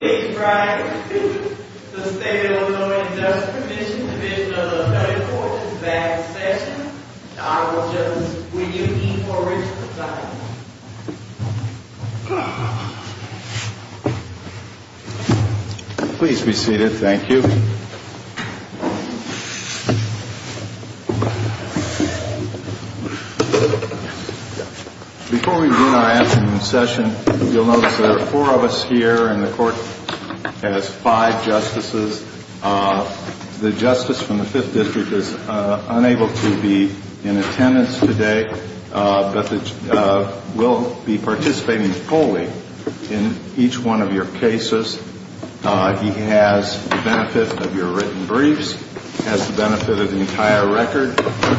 Thank you, Brian. The State of Illinois Industrial Permission Division of the Federal Courts is back in session. The Honorable Justice, will you yield the floor, Richard, for the silence? Please be seated. Thank you. Before we begin our afternoon session, you'll notice that there are four of us here and the Court has five Justices. The Justice from the Fifth District is unable to be in attendance today, but will be participating wholly in each one of your cases. He has the benefit of your written briefs, has the benefit of the entire record,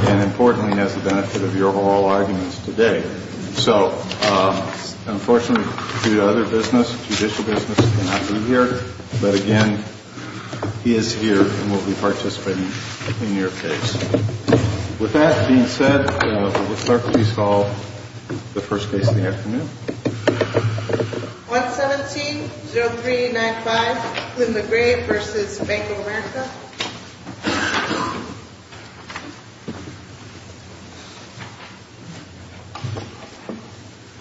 and, importantly, has the benefit of your oral arguments today. So, unfortunately, due to other business, judicial business, he cannot be here. But, again, he is here and will be participating in your case. With that being said, will the Clerk please call the first case of the afternoon? 117-0395, Flynn McGrave v. Bank of America.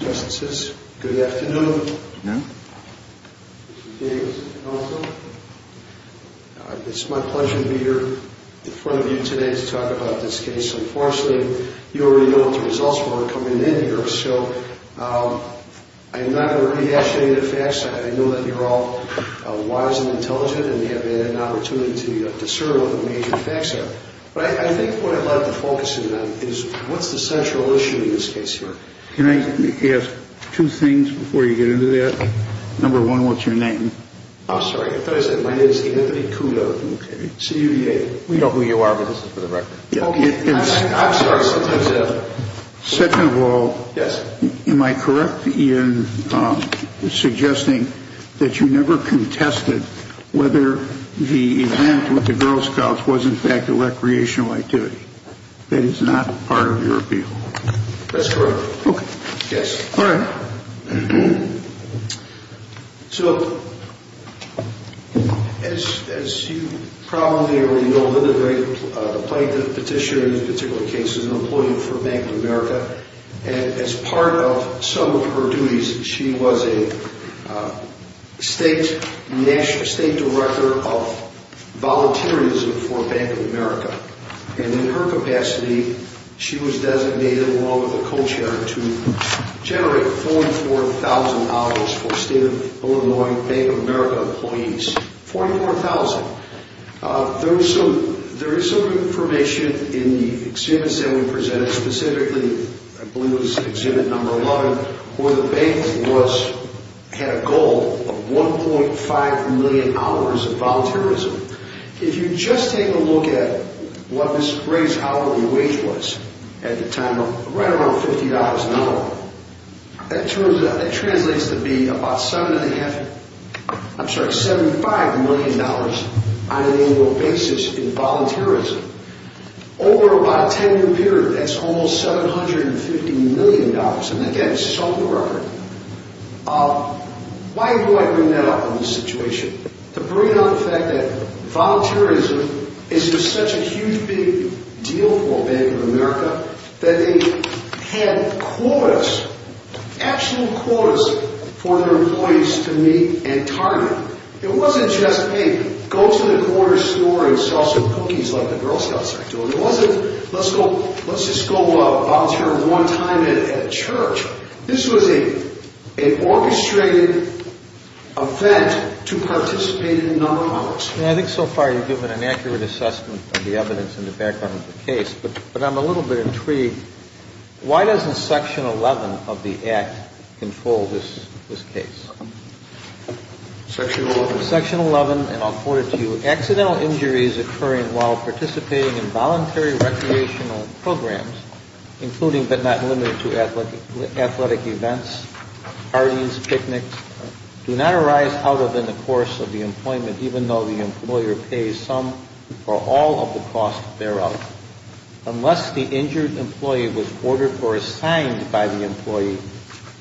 Justices, good afternoon. It's my pleasure to be here in front of you today to talk about this case. Unfortunately, you already know what the results were coming in here, so I am not going to rehash any of the facts. I know that you're all wise and intelligent and have had an opportunity to discern what the major facts are, but I think what I'd like to focus in on is what's the central issue in this case here? Can I ask two things before you get into that? Number one, what's your name? I'm sorry. I thought I said my name is Anthony Kudo, C-U-D-A. We know who you are, but this is for the record. I'm sorry. Second of all, am I correct in suggesting that you never contested whether the event with the Girl Scouts was, in fact, recreational activity? That is not part of your appeal. That's correct. Okay. Yes. All right. $44,000 for State of Illinois Bank of America employees. $44,000. There is some information in the exhibits that we presented, specifically, I believe it was exhibit number 11, where the bank had a goal of 1.5 million hours of volunteerism. If you just take a look at what the greatest hourly wage was at the time, right around $50 an hour, that translates to be about $75 million on an annual basis in volunteerism. Over about a 10-year period, that's almost $750 million. And again, it's on the record. Why do I bring that up in this situation? To bring up the fact that volunteerism is just such a huge big deal for Bank of America that they had quotas, actual quotas, for their employees to meet and target. It wasn't just, hey, go to the corner store and sell some cookies like the Girl Scouts are doing. It wasn't, let's just go volunteer one time at a church. This was an orchestrated event to participate in a number of others. I think so far you've given an accurate assessment of the evidence in the background of the case, but I'm a little bit intrigued. Why doesn't Section 11 of the Act control this case? Section 11? Accidental injuries occurring while participating in voluntary recreational programs, including but not limited to athletic events, parties, picnics, do not arise out of in the course of the employment, even though the employer pays some or all of the cost thereof, unless the injured employee was ordered or assigned by the employee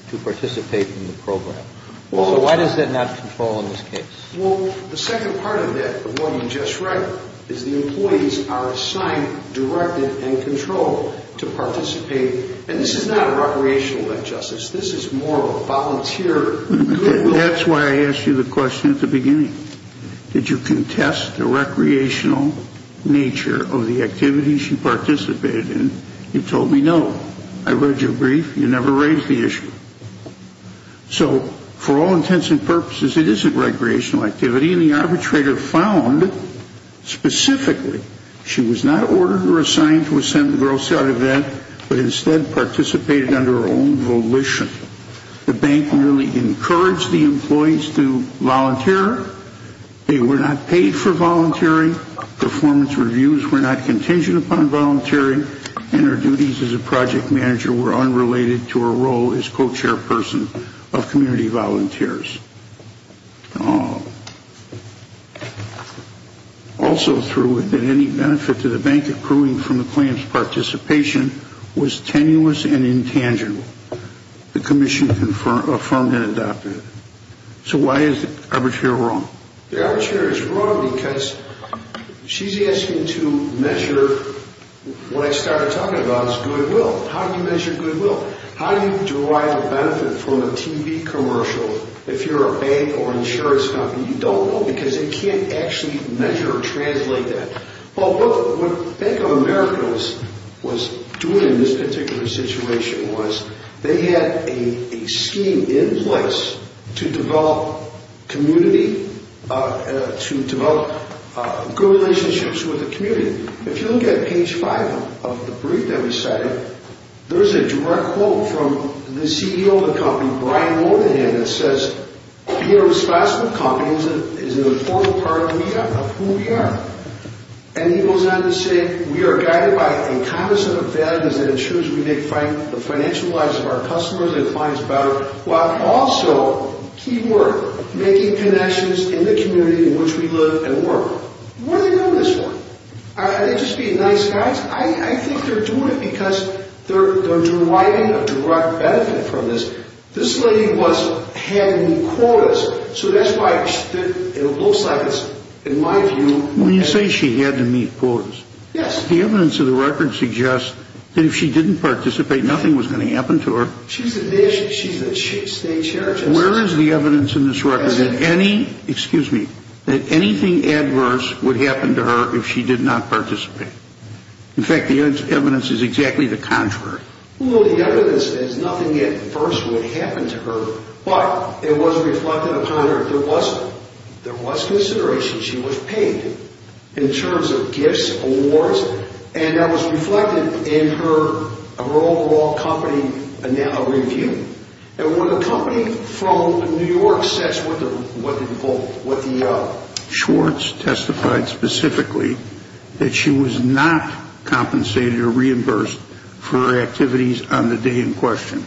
to participate in the program. So why does that not control in this case? Well, the second part of that, of what you just read, is the employees are assigned, directed, and controlled to participate. And this is not a recreational event, Justice. This is more of a volunteer. That's why I asked you the question at the beginning. Did you contest the recreational nature of the activities you participated in? You told me no. I read your brief. You never raised the issue. So, for all intents and purposes, it is a recreational activity, and the arbitrator found, specifically, she was not ordered or assigned to attend the gross out of that, but instead participated under her own volition. The bank merely encouraged the employees to volunteer. They were not paid for volunteering. Performance reviews were not contingent upon volunteering. And her duties as a project manager were unrelated to her role as co-chairperson of community volunteers. Also, through it, that any benefit to the bank accruing from the claim's participation was tenuous and intangible. The commission affirmed and adopted it. So why is the arbitrator wrong? The arbitrator is wrong because she's asking to measure what I started talking about is goodwill. How do you measure goodwill? How do you derive a benefit from a TV commercial if you're a bank or insurance company? You don't know because they can't actually measure or translate that. Well, what Bank of America was doing in this particular situation was they had a scheme in place to develop community, to develop good relationships with the community. If you look at page five of the brief that we cited, there's a direct quote from the CEO of the company, that says, And he goes on to say, What do they do this for? Are they just being nice guys? I think they're doing it because they're deriving a direct benefit from this. This lady had to meet quotas. So that's why it looks like, in my view... When you say she had to meet quotas... Yes. ...the evidence of the record suggests that if she didn't participate, nothing was going to happen to her. She's a state chair. Where is the evidence in this record that anything adverse would happen to her if she did not participate? In fact, the evidence is exactly the contrary. Well, the evidence is nothing adverse would happen to her, but it was reflected upon her. There was consideration. She was paid in terms of gifts, awards, and that was reflected in her overall company review. And when a company from New York says what the... testified specifically that she was not compensated or reimbursed for her activities on the day in question.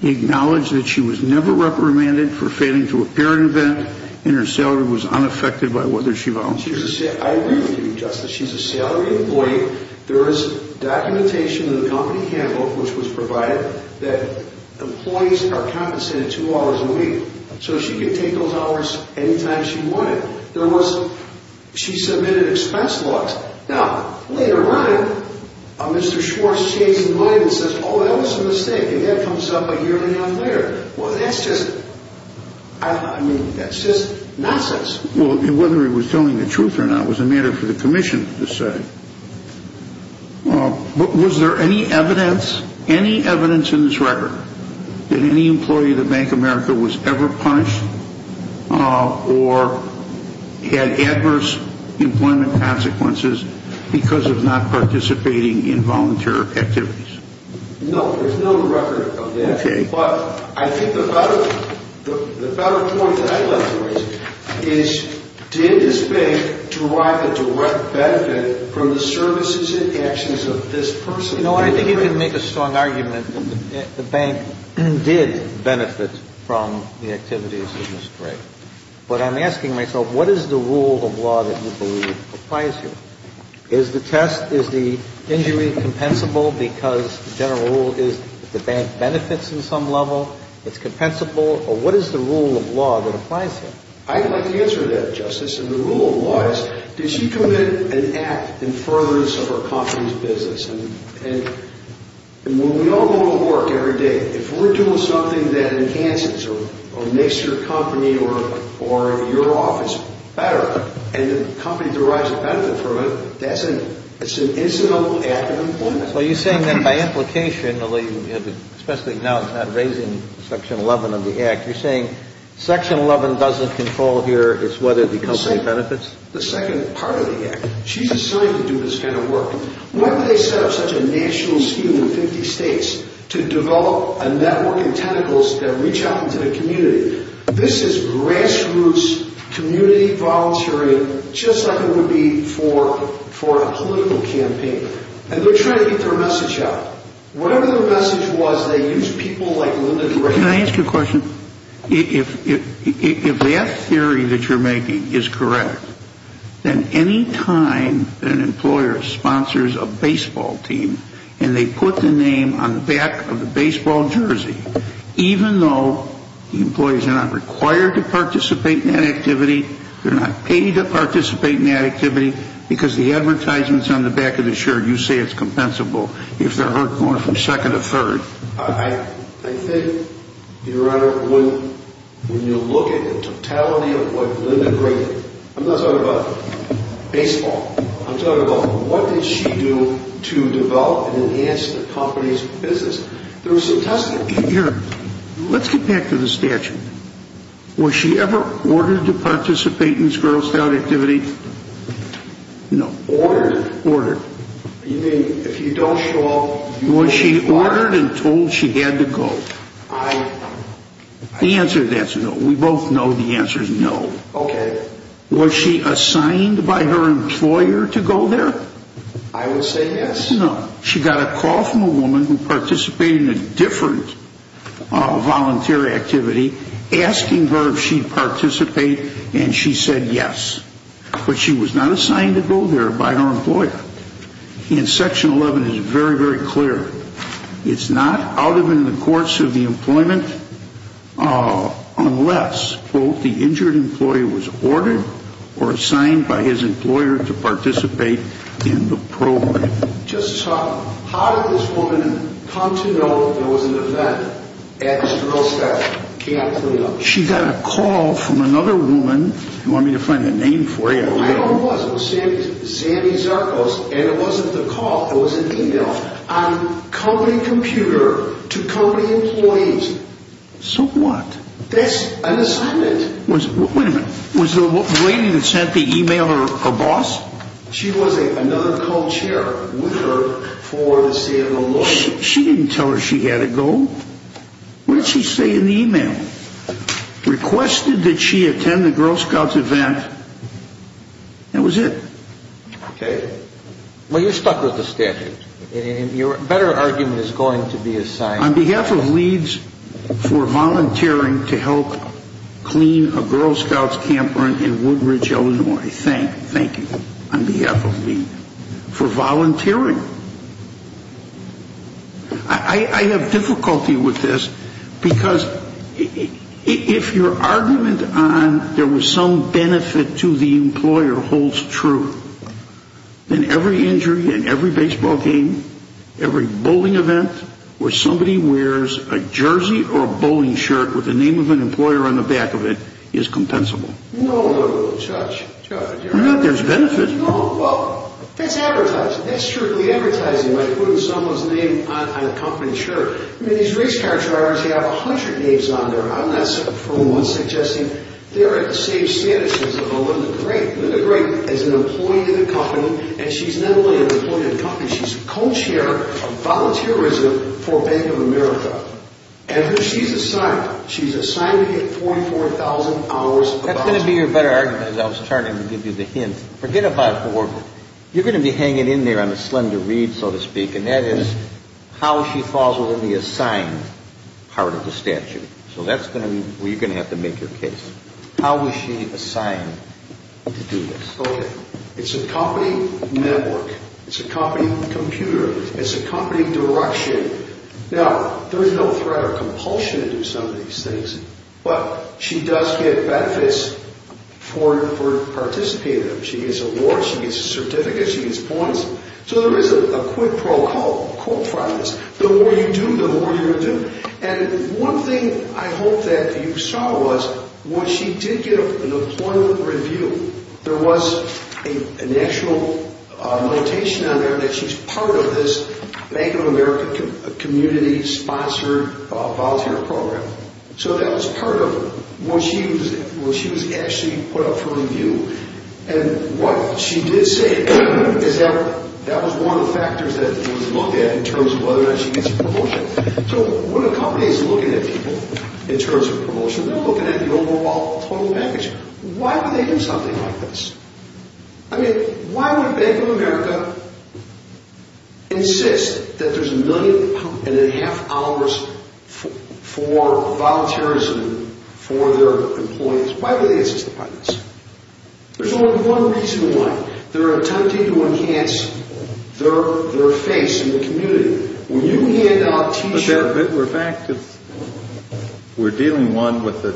He acknowledged that she was never reprimanded for failing to appear at an event, and her salary was unaffected by whether she volunteered. I agree with you, Justice. She's a salaried employee. There is documentation in the company handbook, which was provided, that employees are compensated two hours a week. So she could take those hours anytime she wanted. There was... she submitted expense logs. Now, later on, Mr. Schwartz shakes his head and says, oh, that was a mistake, and that comes up a year and a half later. Well, that's just... I mean, that's just nonsense. Well, whether he was telling the truth or not was a matter for the commission to say. Was there any evidence, any evidence in this record, that any employee of the Bank of America was ever punished or had adverse employment consequences because of not participating in volunteer activities? No, there's no record of that. Okay. But I think the better point that I'd like to raise is, did this bank derive a direct benefit from the services and actions of this person? You know what? I think you can make a strong argument that the bank did benefit from the activities of Ms. Gray. But I'm asking myself, what is the rule of law that you believe applies here? Is the test, is the injury compensable because the general rule is that the bank benefits in some level? It's compensable? Or what is the rule of law that applies here? I'd like to answer that, Justice. And the rule of law is, did she commit an act in furtherance of her company's business? And when we all go to work every day, if we're doing something that enhances or makes your company or your office better and the company derives a benefit from it, that's an incidental act of employment. So you're saying that by implication, especially now it's not raising Section 11 of the Act, you're saying Section 11 doesn't control here is whether the company benefits? The second part of the Act. She's assigned to do this kind of work. Why would they set up such a national scheme in 50 states to develop a network of tentacles that reach out into the community? This is grassroots community volunteering just like it would be for a political campaign. And they're trying to get their message out. Whatever their message was, they used people like Linda to raise money. Can I ask you a question? If that theory that you're making is correct, then any time that an employer sponsors a baseball team and they put the name on the back of the baseball jersey, even though the employees are not required to participate in that activity, they're not paid to participate in that activity, because the advertisements on the back of the shirt, you say it's compensable if they're going from second to third. I think, Your Honor, when you look at the totality of what Linda did, I'm not talking about baseball. I'm talking about what did she do to develop and enhance the company's business. There was some testing. Let's get back to the statute. Was she ever ordered to participate in this Girl Scout activity? No. Ordered? Ordered. You mean if you don't show up... Was she ordered and told she had to go? I... The answer is no. We both know the answer is no. Okay. Was she assigned by her employer to go there? I would say yes. No. She got a call from a woman who participated in a different volunteer activity asking her if she'd participate, and she said yes. But she was not assigned to go there by her employer. And Section 11 is very, very clear. It's not out of and in the course of the employment unless, quote, the injured employee was ordered or assigned by his employer to participate in the program. Justice Hartman, how did this woman come to know there was an event at this Girl Scout? She got a call from another woman. You want me to find the name for you? I don't know who it was. It was Sandy Zarkos, and it wasn't the call. It was an e-mail on company computer to company employees. So what? That's an assignment. Wait a minute. Was the lady that sent the e-mail her boss? She was another co-chair with her for the Santa Rosa. She didn't tell her she had to go. What did she say in the e-mail? Requested that she attend the Girl Scouts event. That was it. Okay. Well, you're stuck with the statute. Your better argument is going to be assigned. On behalf of LEADS for volunteering to help clean a Girl Scouts campground in Woodridge, Illinois, thank you, thank you, on behalf of LEADS for volunteering. I have difficulty with this because if your argument on there was some benefit to the employer holds true, then every injury in every baseball game, every bowling event, where somebody wears a jersey or a bowling shirt with the name of an employer on the back of it is compensable. No, Judge. There's benefit. No. Well, that's advertising. That's strictly advertising by putting someone's name on a company shirt. I mean, these race car drivers, they have a hundred names on there. I'm not for once suggesting they're at the same status as a Melinda Gray. Melinda Gray is an employee of the company, and she's not only an employee of the company, she's co-chair of volunteerism for Bank of America. And she's assigned. She's assigned to get $44,000 a month. That's going to be your better argument, as I was trying to give you the hint. Forget about Orville. You're going to be hanging in there on a slender reed, so to speak, and that is how she falls within the assigned part of the statute. So that's going to be where you're going to have to make your case. How is she assigned to do this? Okay. It's a company network. It's a company computer. It's a company direction. Now, there is no threat or compulsion to do some of these things, but she does get benefits for participating in them. She gets awards. She gets a certificate. She gets points. So there is a quid pro quo for this. The more you do, the more you'll do. And one thing I hope that you saw was when she did get an employment review, there was an actual notation on there that she's part of this Bank of America community-sponsored volunteer program. So that was part of what she was actually put up for review. And what she did say is that that was one of the factors that was looked at in terms of whether or not she gets a promotion. So when a company is looking at people in terms of promotion, they're looking at the overall total package. Why would they do something like this? I mean, why would Bank of America insist that there's a million and a half hours for volunteerism for their employees? Why would they insist upon this? There's only one reason why. They're attempting to enhance their face in the community. When you hand out T-shirts... We're dealing, one, with the...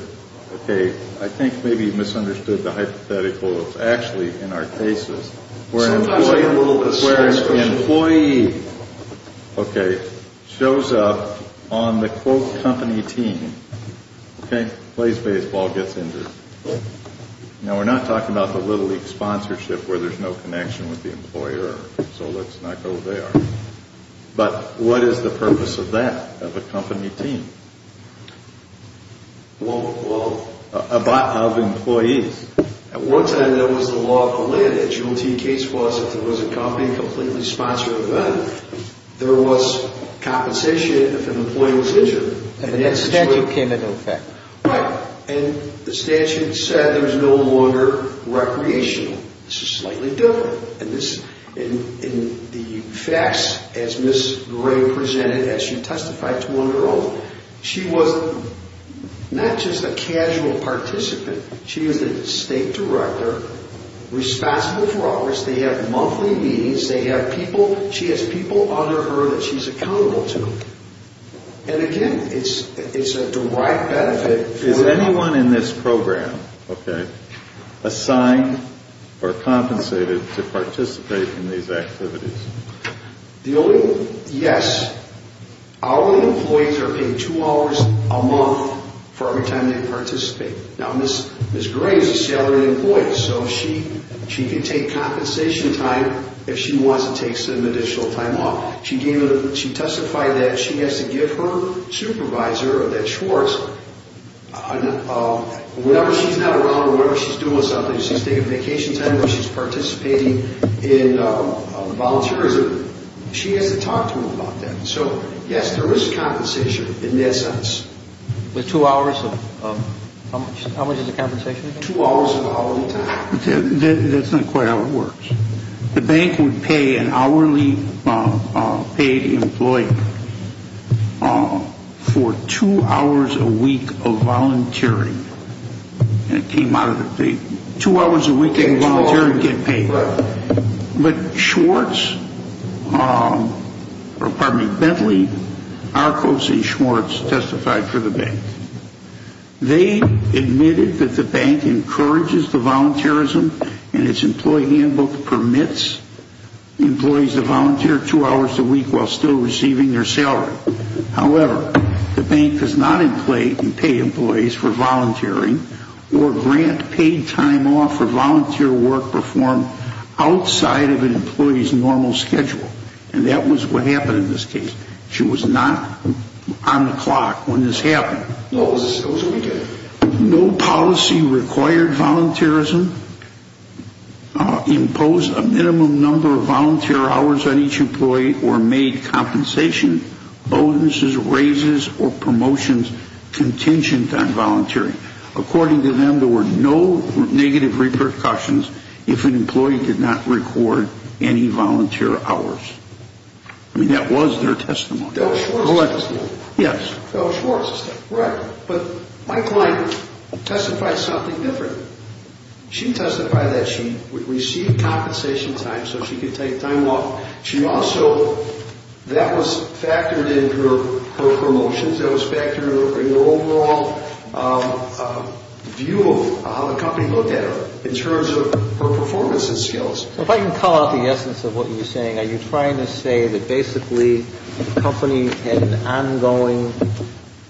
Okay, I think maybe you misunderstood the hypothetical. It's actually, in our cases, where an employee shows up on the quote company team, plays baseball, gets injured. Now, we're not talking about the Little League sponsorship where there's no connection with the employer. So let's not go there. But what is the purpose of that, of a company team? Well... Of employees. At one time, that was the law of the land. The JOT case was if there was a company completely sponsored event, there was compensation if an employee was injured. And the statute came into effect. Right. And the statute said there was no longer recreational. This is slightly different. In the facts, as Ms. Gray presented, as she testified to one of her own, she was not just a casual participant. She was the state director, responsible for office. They have monthly meetings. They have people. She has people under her that she's accountable to. And again, it's a direct benefit. Is anyone in this program assigned or compensated to participate in these activities? The only... Yes. Our employees are paid two hours a month for every time they participate. Now, Ms. Gray is a salaried employee, so she can take compensation time if she wants to take some additional time off. She testified that she has to give her supervisor, that Schwartz, whenever she's not around, whenever she's doing something, she's taking vacation time or she's participating in volunteerism, she has to talk to him about that. So, yes, there is compensation in that sense. With two hours of... How much is the compensation? Two hours of hourly time. That's not quite how it works. The bank would pay an hourly paid employee for two hours a week of volunteering. And it came out of the... Two hours a week they can volunteer and get paid. Right. But Schwartz, or pardon me, Bentley, Archos, and Schwartz testified for the bank. They admitted that the bank encourages the volunteerism and its employee handbook permits employees to volunteer two hours a week while still receiving their salary. However, the bank does not pay employees for volunteering or grant paid time off for volunteer work performed outside of an employee's normal schedule. And that was what happened in this case. She was not on the clock when this happened. No, it was a weekend. No policy required volunteerism, imposed a minimum number of volunteer hours on each employee, or made compensation bonuses, raises, or promotions contingent on volunteering. According to them, there were no negative repercussions if an employee did not record any volunteer hours. I mean, that was their testimony. Bill Schwartz testified. Yes. Bill Schwartz testified. Right. But my client testified something different. She testified that she received compensation time so she could take time off. She also, that was factored in her promotions. That was factored in her overall view of how the company looked at her in terms of her performance and skills. If I can call out the essence of what you're saying, are you trying to say that basically the company had an ongoing,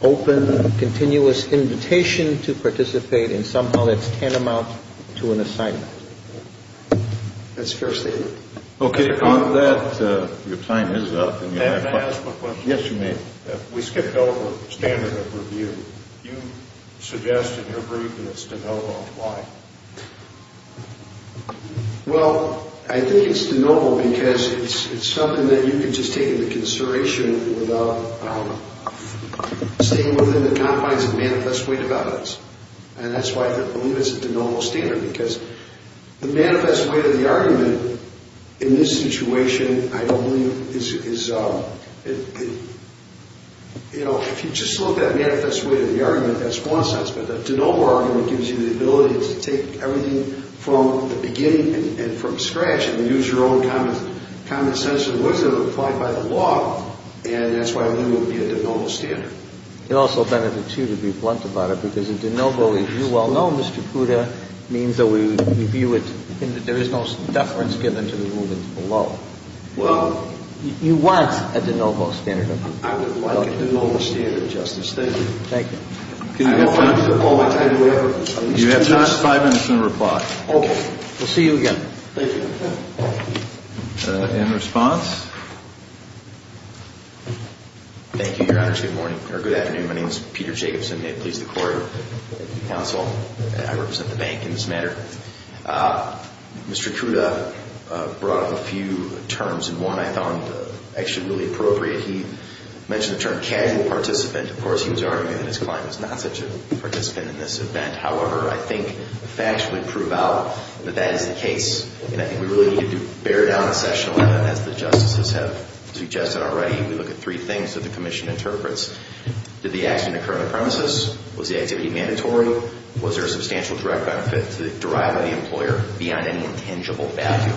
open, continuous invitation to participate and somehow that's tantamount to an assignment? That's fair stated. Okay. On that, your time is up. May I ask a question? Yes, you may. We skipped over standard of review. You suggested in your briefings to know why. Well, I think it's de novo because it's something that you can just take into consideration without staying within the confines of manifest way to evidence. And that's why I believe it's a de novo standard because the manifest way to the argument in this situation I believe is, you know, if you just look at manifest way to the argument, that's one sense. But the de novo argument gives you the ability to take everything from the beginning and from scratch and use your own common sense and wisdom applied by the law. And that's why I believe it would be a de novo standard. It also benefits you to be blunt about it because a de novo, as you well know, Mr. Puda, means that we view it in that there is no deference given to the movement below. Well. You want a de novo standard. I would like a de novo standard, Justice. Thank you. Thank you. Do you have time? You have just five minutes to reply. Okay. We'll see you again. Thank you. In response? Thank you, Your Honor. Good morning. Or good afternoon. My name is Peter Jacobson. May it please the court, counsel, I represent the bank in this matter. Mr. Puda brought up a few terms and one I found actually really appropriate. He mentioned the term casual participant. Of course, he was arguing that his client was not such a participant in this event. However, I think the facts would prove out that that is the case. And I think we really need to bear down on section 11, as the justices have suggested already. We look at three things that the commission interprets. Did the accident occur on the premises? Was the activity mandatory? Was there a substantial direct benefit to the driver and the employer beyond any intangible value?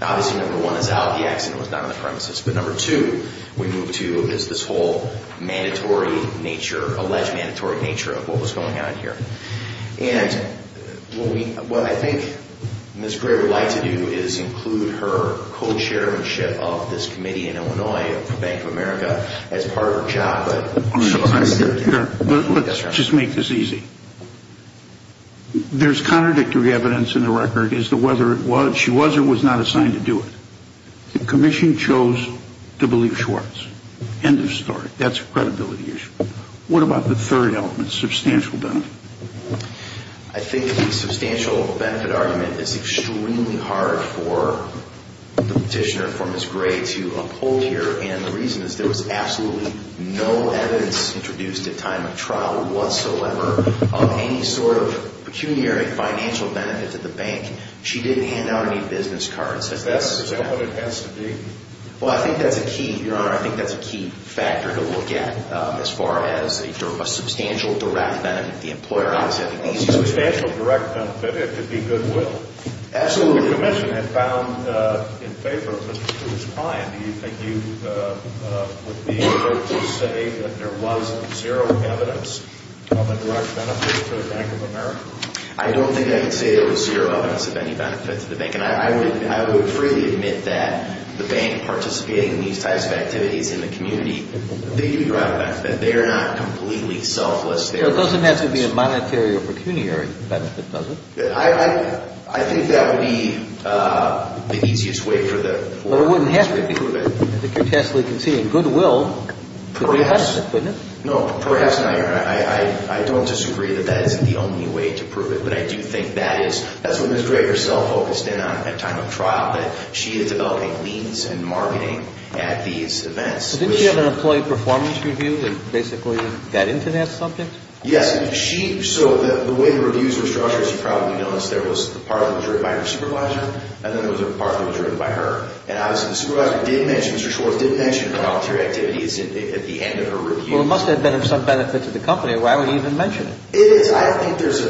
Obviously, number one is out. The accident was not on the premises. But number two we move to is this whole mandatory nature, alleged mandatory nature of what was going on here. And what I think Ms. Gray would like to do is include her co-chairmanship of this committee in Illinois, Bank of America, as part of her job. Let's just make this easy. There's contradictory evidence in the record as to whether she was or was not assigned to do it. The commission chose to believe Schwartz. End of story. That's a credibility issue. What about the third element, substantial benefit? I think the substantial benefit argument is extremely hard for the petitioner, for Ms. Gray, to uphold here. And the reason is there was absolutely no evidence introduced at time of trial whatsoever of any sort of pecuniary financial benefit to the bank. She didn't hand out any business cards. Is that what it has to be? Well, I think that's a key, Your Honor, I think that's a key factor to look at as far as a substantial direct benefit to the employer. A substantial direct benefit, it could be goodwill. Absolutely. The commission had found in favor of Mr. Schwartz's client. Do you think you would be able to say that there was zero evidence of a direct benefit to the Bank of America? I don't think I can say there was zero evidence of any benefit to the bank. And I would freely admit that the bank participating in these types of activities in the community, they do have a benefit. They are not completely selfless. It doesn't have to be a monetary or pecuniary benefit, does it? I think that would be the easiest way for the court to prove it. But it wouldn't have to be. I think you're testily conceding goodwill could be a benefit, couldn't it? No, perhaps not, Your Honor. I don't disagree that that isn't the only way to prove it. But I do think that is, that's what Ms. Gray herself focused in on at time of trial, that she is developing means and marketing at these events. So didn't she have an employee performance review that basically got into that subject? Yes. She, so the way the reviews were structured, as you probably noticed, there was part of it was written by her supervisor, and then there was a part that was written by her. And obviously the supervisor did mention, Mr. Schwartz did mention voluntary activities at the end of her review. Well, it must have been of some benefit to the company. Why would he even mention it? It is. I don't think there's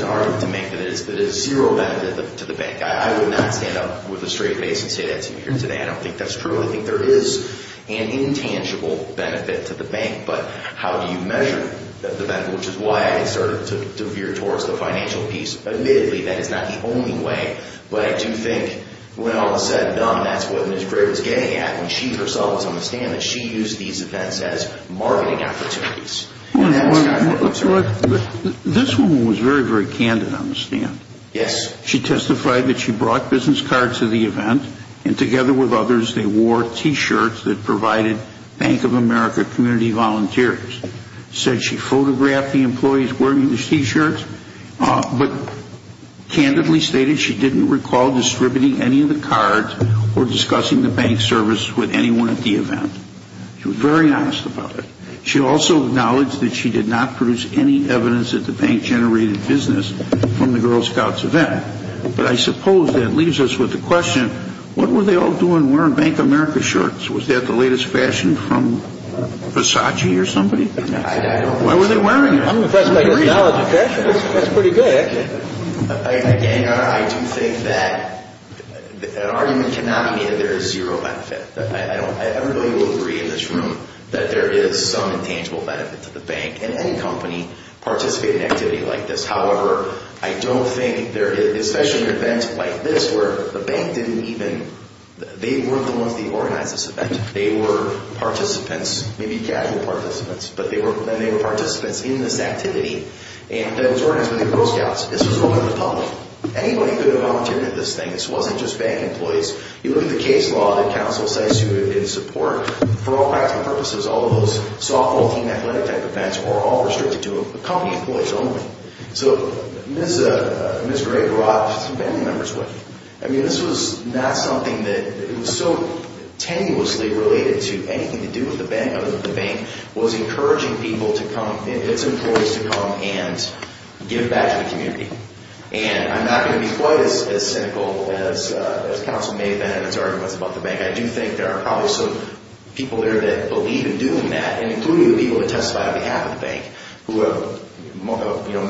an argument to make that it is zero benefit to the bank. I would not stand up with a straight face and say that to you here today. I don't think that's true. I think there is an intangible benefit to the bank, but how do you measure the benefit, which is why I started to veer towards the financial piece. Admittedly, that is not the only way, but I do think when all is said and done, that's what Ms. Gray was getting at. She used these events as marketing opportunities. This woman was very, very candid on the stand. Yes. She testified that she brought business cards to the event, and together with others, they wore T-shirts that provided Bank of America community volunteers. She said she photographed the employees wearing these T-shirts, but candidly stated she didn't recall distributing any of the cards or discussing the bank service with anyone at the event. She was very honest about it. She also acknowledged that she did not produce any evidence that the bank generated business from the Girl Scouts event. But I suppose that leaves us with the question, what were they all doing wearing Bank of America shirts? Was that the latest fashion from Versace or somebody? I don't know. Why were they wearing it? I'm impressed by your knowledge of fashion. That's pretty good, actually. Again, I do think that an argument cannot be made that there is zero benefit. Everybody will agree in this room that there is some intangible benefit to the bank and any company participating in an activity like this. However, I don't think there is, especially at events like this where the bank didn't even, they weren't the ones that organized this event. They were participants, maybe casual participants, but they were participants in this activity. And it was organized by the Girl Scouts. This was open to the public. Anybody could have volunteered at this thing. This wasn't just bank employees. You look at the case law that counsel cites in support. For all practical purposes, all of those softball team athletic type events were all restricted to company employees only. So Ms. Gray brought some family members with her. I mean, this was not something that, it was so tenuously related to anything to do with the bank was encouraging people to come, its employees to come, and give back to the community. And I'm not going to be quite as cynical as counsel may have been in his arguments about the bank. I do think there are probably some people there that believe in doing that, including the people that testify on behalf of the bank.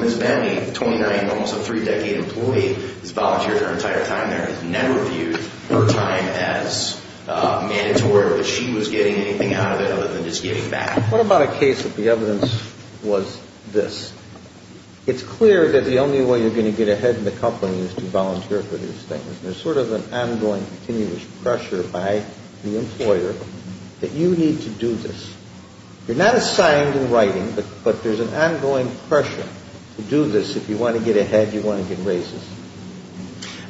Ms. Bentley, 29, almost a three-decade employee, has volunteered her entire time there and has never viewed her time as mandatory or that she was getting anything out of it other than just giving back. What about a case that the evidence was this? It's clear that the only way you're going to get ahead in the company is to volunteer for these things. There's sort of an ongoing continuous pressure by the employer that you need to do this. You're not assigned in writing, but there's an ongoing pressure to do this. If you want to get ahead, you want to get raises.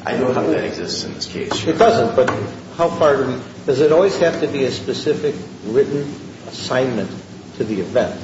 I don't know how that exists in this case. It doesn't, but how far does it always have to be a specific written assignment to the event?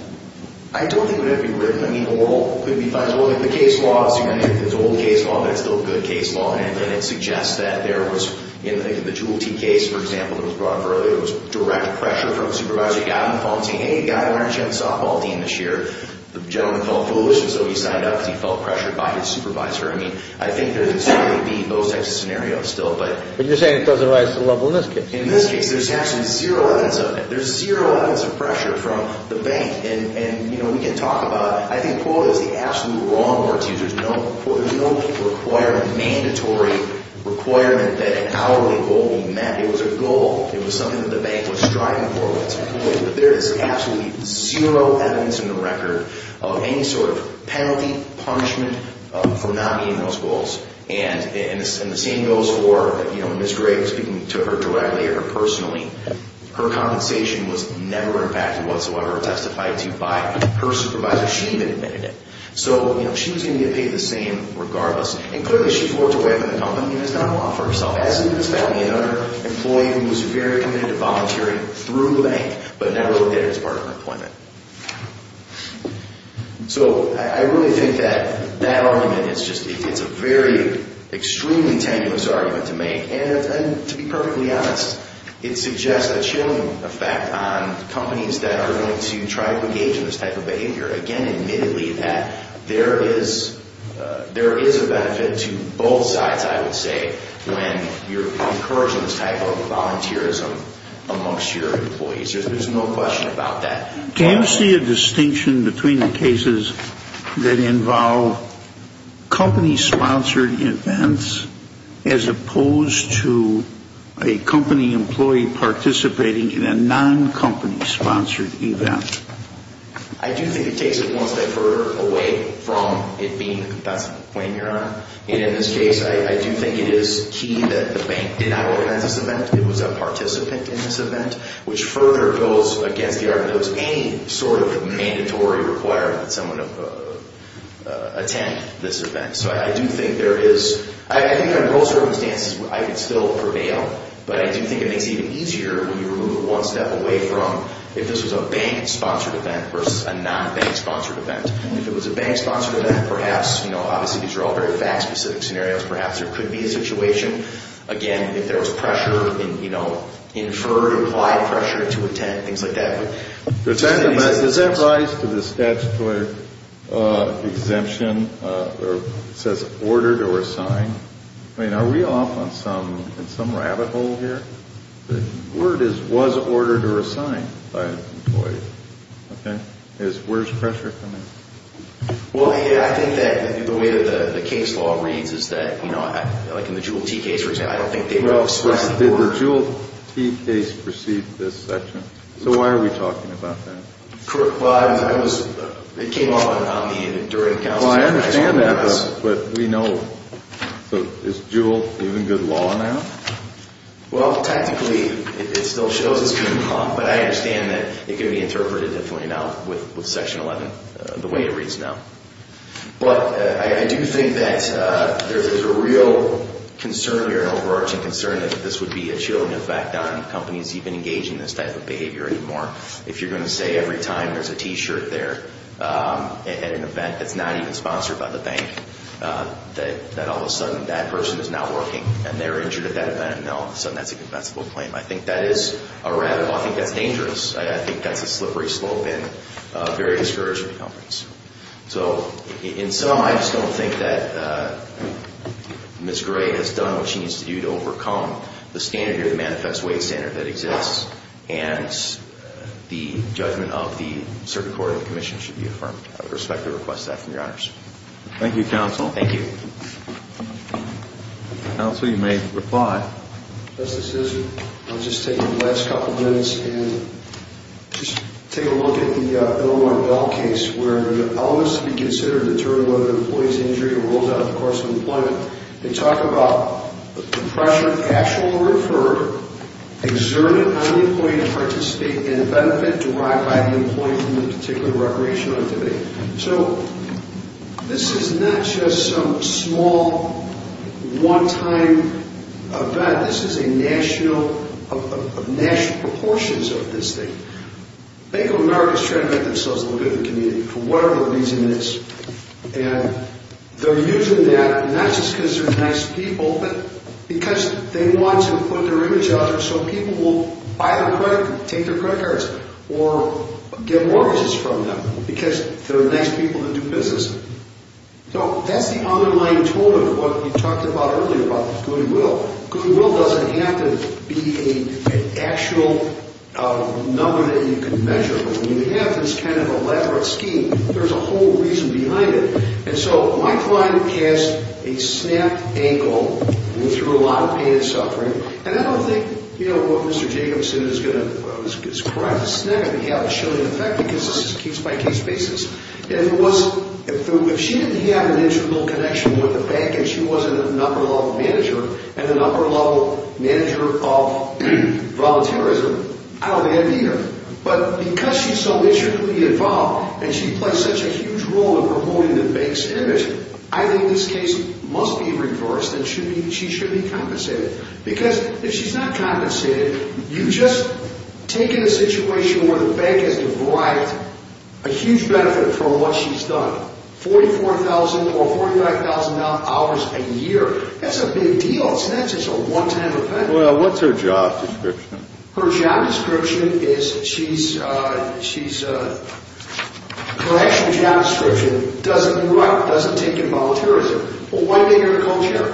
I don't think it would have to be written. I mean, the case law, it's an old case law, but it's still a good case law, and it suggests that there was, in the Jooltee case, for example, that was brought up earlier, there was direct pressure from the supervisor. A guy on the phone said, hey, a guy on our team saw Paul Dean this year. The gentleman felt foolish, and so he signed up because he felt pressured by his supervisor. I mean, I think there's going to be those types of scenarios still. But you're saying it doesn't rise to the level in this case? In this case, there's absolutely zero evidence of it. There's zero evidence of pressure from the bank. And, you know, we can talk about it. I think Paul is the absolute wrong word to use. There's no requirement, mandatory requirement that an hourly goal will be met. It was a goal. It was something that the bank was striving for. There is absolutely zero evidence in the record of any sort of penalty, punishment for not meeting those goals. And the same goes for, you know, Ms. Gray, speaking to her directly or personally, her compensation was never impacted whatsoever, testified to by her supervisor. She didn't even admit it. So, you know, she was going to get paid the same regardless. And clearly she's worked her way up in the company and has done a lot for herself. As in this family, another employee who was very committed to volunteering through the bank, but never looked at it as part of her appointment. So I really think that that argument is just a very, extremely tenuous argument to make. And to be perfectly honest, it suggests a chilling effect on companies that are going to try to engage in this type of behavior. Again, admittedly, that there is a benefit to both sides, I would say, when you're encouraging this type of volunteerism amongst your employees. There's no question about that. Do you see a distinction between the cases that involve company-sponsored events as opposed to a company employee participating in a non-company-sponsored event? I do think it takes it one step further away from it being a compassionate claim, Your Honor. And in this case, I do think it is key that the bank did not organize this event. It was a participant in this event, which further goes against the argument that it was any sort of mandatory requirement that someone attend this event. So I do think there is – I think under all circumstances, I would still prevail. But I do think it makes it even easier when you remove one step away from if this was a bank-sponsored event versus a non-bank-sponsored event. If it was a bank-sponsored event, perhaps, you know, obviously these are all very fact-specific scenarios, perhaps there could be a situation, again, if there was pressure, you know, inferred, implied pressure to attend, things like that. Does that rise to the statutory exemption that says ordered or assigned? I mean, are we off on some rabbit hole here? The word is was ordered or assigned by an employee, okay? Where's pressure coming from? Well, I think that the way that the case law reads is that, you know, like in the Jewel T case, for example, I don't think they would express the order. Well, did the Jewel T case precede this section? So why are we talking about that? Well, it was – it came up on me during the counseling. Well, I understand that, but we know – is Jewel even good law now? Well, technically, it still shows it's good law, but I understand that it can be interpreted differently now with Section 11, the way it reads now. But I do think that there's a real concern here, an overarching concern, that this would be a chilling effect on companies even engaging in this type of behavior anymore. If you're going to say every time there's a T-shirt there at an event that's not even sponsored by the bank, that all of a sudden that person is not working and they're injured at that event, no, all of a sudden that's a compensable claim. I think that is a rabbit hole. I think that's dangerous. I think that's a slippery slope in very discouraging companies. So in sum, I just don't think that Ms. Gray has done what she needs to do to overcome the standard here, the manifest wage standard that exists, and the judgment of the Circuit Court and the Commission should be affirmed. I would respectfully request that from your Honors. Thank you, Counsel. Thank you. Counsel, you may reply. Yes, this is me. I'll just take the last couple of minutes and just take a look at the Illinois Bell case, where the elements to be considered determine whether the employee's injury rolls out of the course of employment. They talk about the impression of casual or referred, exerted on the employee to participate in a benefit derived by the employee from the particular recreational activity. So this is not just some small, one-time event. This is a national, of national proportions of this thing. Bank of America is trying to make themselves look good in the community for whatever the reason is, and they're using that not just because they're nice people, but because they want to put their image out there so people will buy their credit, take their credit cards, or get mortgages from them because they're nice people that do business. So that's the underlying tool of what we talked about earlier about the goodwill. Goodwill doesn't have to be an actual number that you can measure, but when you have this kind of elaborate scheme, there's a whole reason behind it. And so my client has a snapped ankle and went through a lot of pain and suffering, and I don't think, you know, what Mr. Jacobson is going to describe, it's not going to have a chilling effect because this is a case-by-case basis. If it wasn't, if she didn't have an internal connection with the bank and she wasn't a number-level manager and a number-level manager of volunteerism, I don't envy her. But because she's so intricately involved and she plays such a huge role in promoting the bank's image, I think this case must be reversed and she should be compensated. Because if she's not compensated, you've just taken a situation where the bank has derived a huge benefit from what she's done, $44,000 or $45,000 hours a year. That's a big deal. It's not just a one-time event. Well, what's her job description? Her job description is she's, her actual job description, doesn't move out, doesn't take in volunteerism. Well, why make her a co-chair?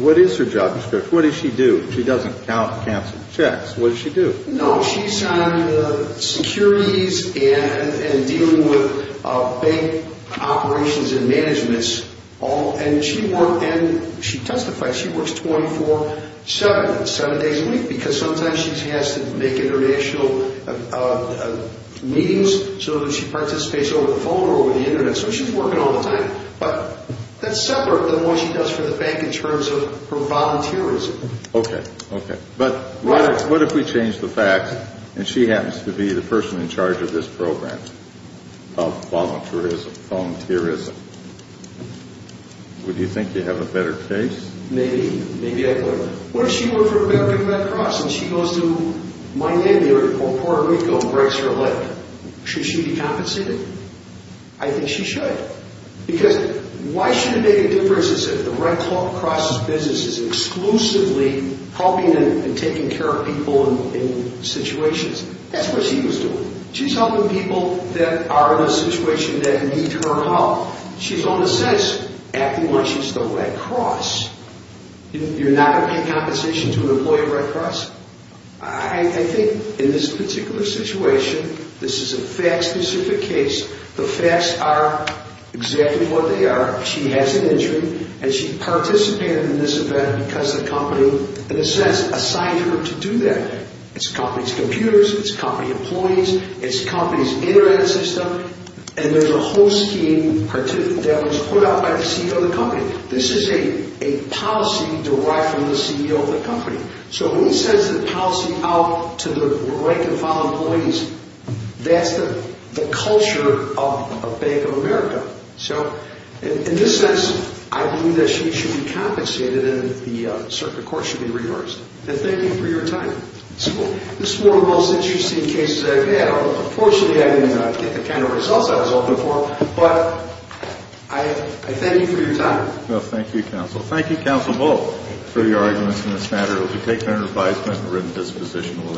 What is her job description? What does she do? She doesn't count, cancel checks. What does she do? No, she's on the securities and dealing with bank operations and managements, and she works 24-7, seven days a week, because sometimes she has to make international meetings so that she participates over the phone or over the Internet, so she's working all the time. But that's separate from what she does for the bank in terms of her volunteerism. Okay, okay. But what if we change the facts and she happens to be the person in charge of this program of volunteerism? Would you think you'd have a better case? Maybe. Maybe I would. What if she worked for American Red Cross and she goes to Miami or Puerto Rico and breaks her leg? Should she be compensated? I think she should. Because why should it make a difference if the Red Cross' business is exclusively helping and taking care of people in situations? That's what she was doing. She's helping people that are in a situation that need her help. She's, in a sense, acting like she's the Red Cross. You're not going to pay compensation to an employee of Red Cross? I think in this particular situation, this is a fact-specific case. The facts are exactly what they are. She has an injury and she participated in this event because the company, in a sense, assigned her to do that. It's the company's computers. It's the company employees. It's the company's internet system. And there's a whole scheme that was put out by the CEO of the company. This is a policy derived from the CEO of the company. So he sends the policy out to the rank-and-file employees. That's the culture of Bank of America. So, in this sense, I believe that she should be compensated and the circuit court should be reversed. And thank you for your time. This is one of the most interesting cases I've had. Unfortunately, I didn't get the kind of results I was hoping for. But I thank you for your time. Well, thank you, counsel. Thank you, Counsel Moe, for your arguments in this matter. It will be taken under advisement and written disposition.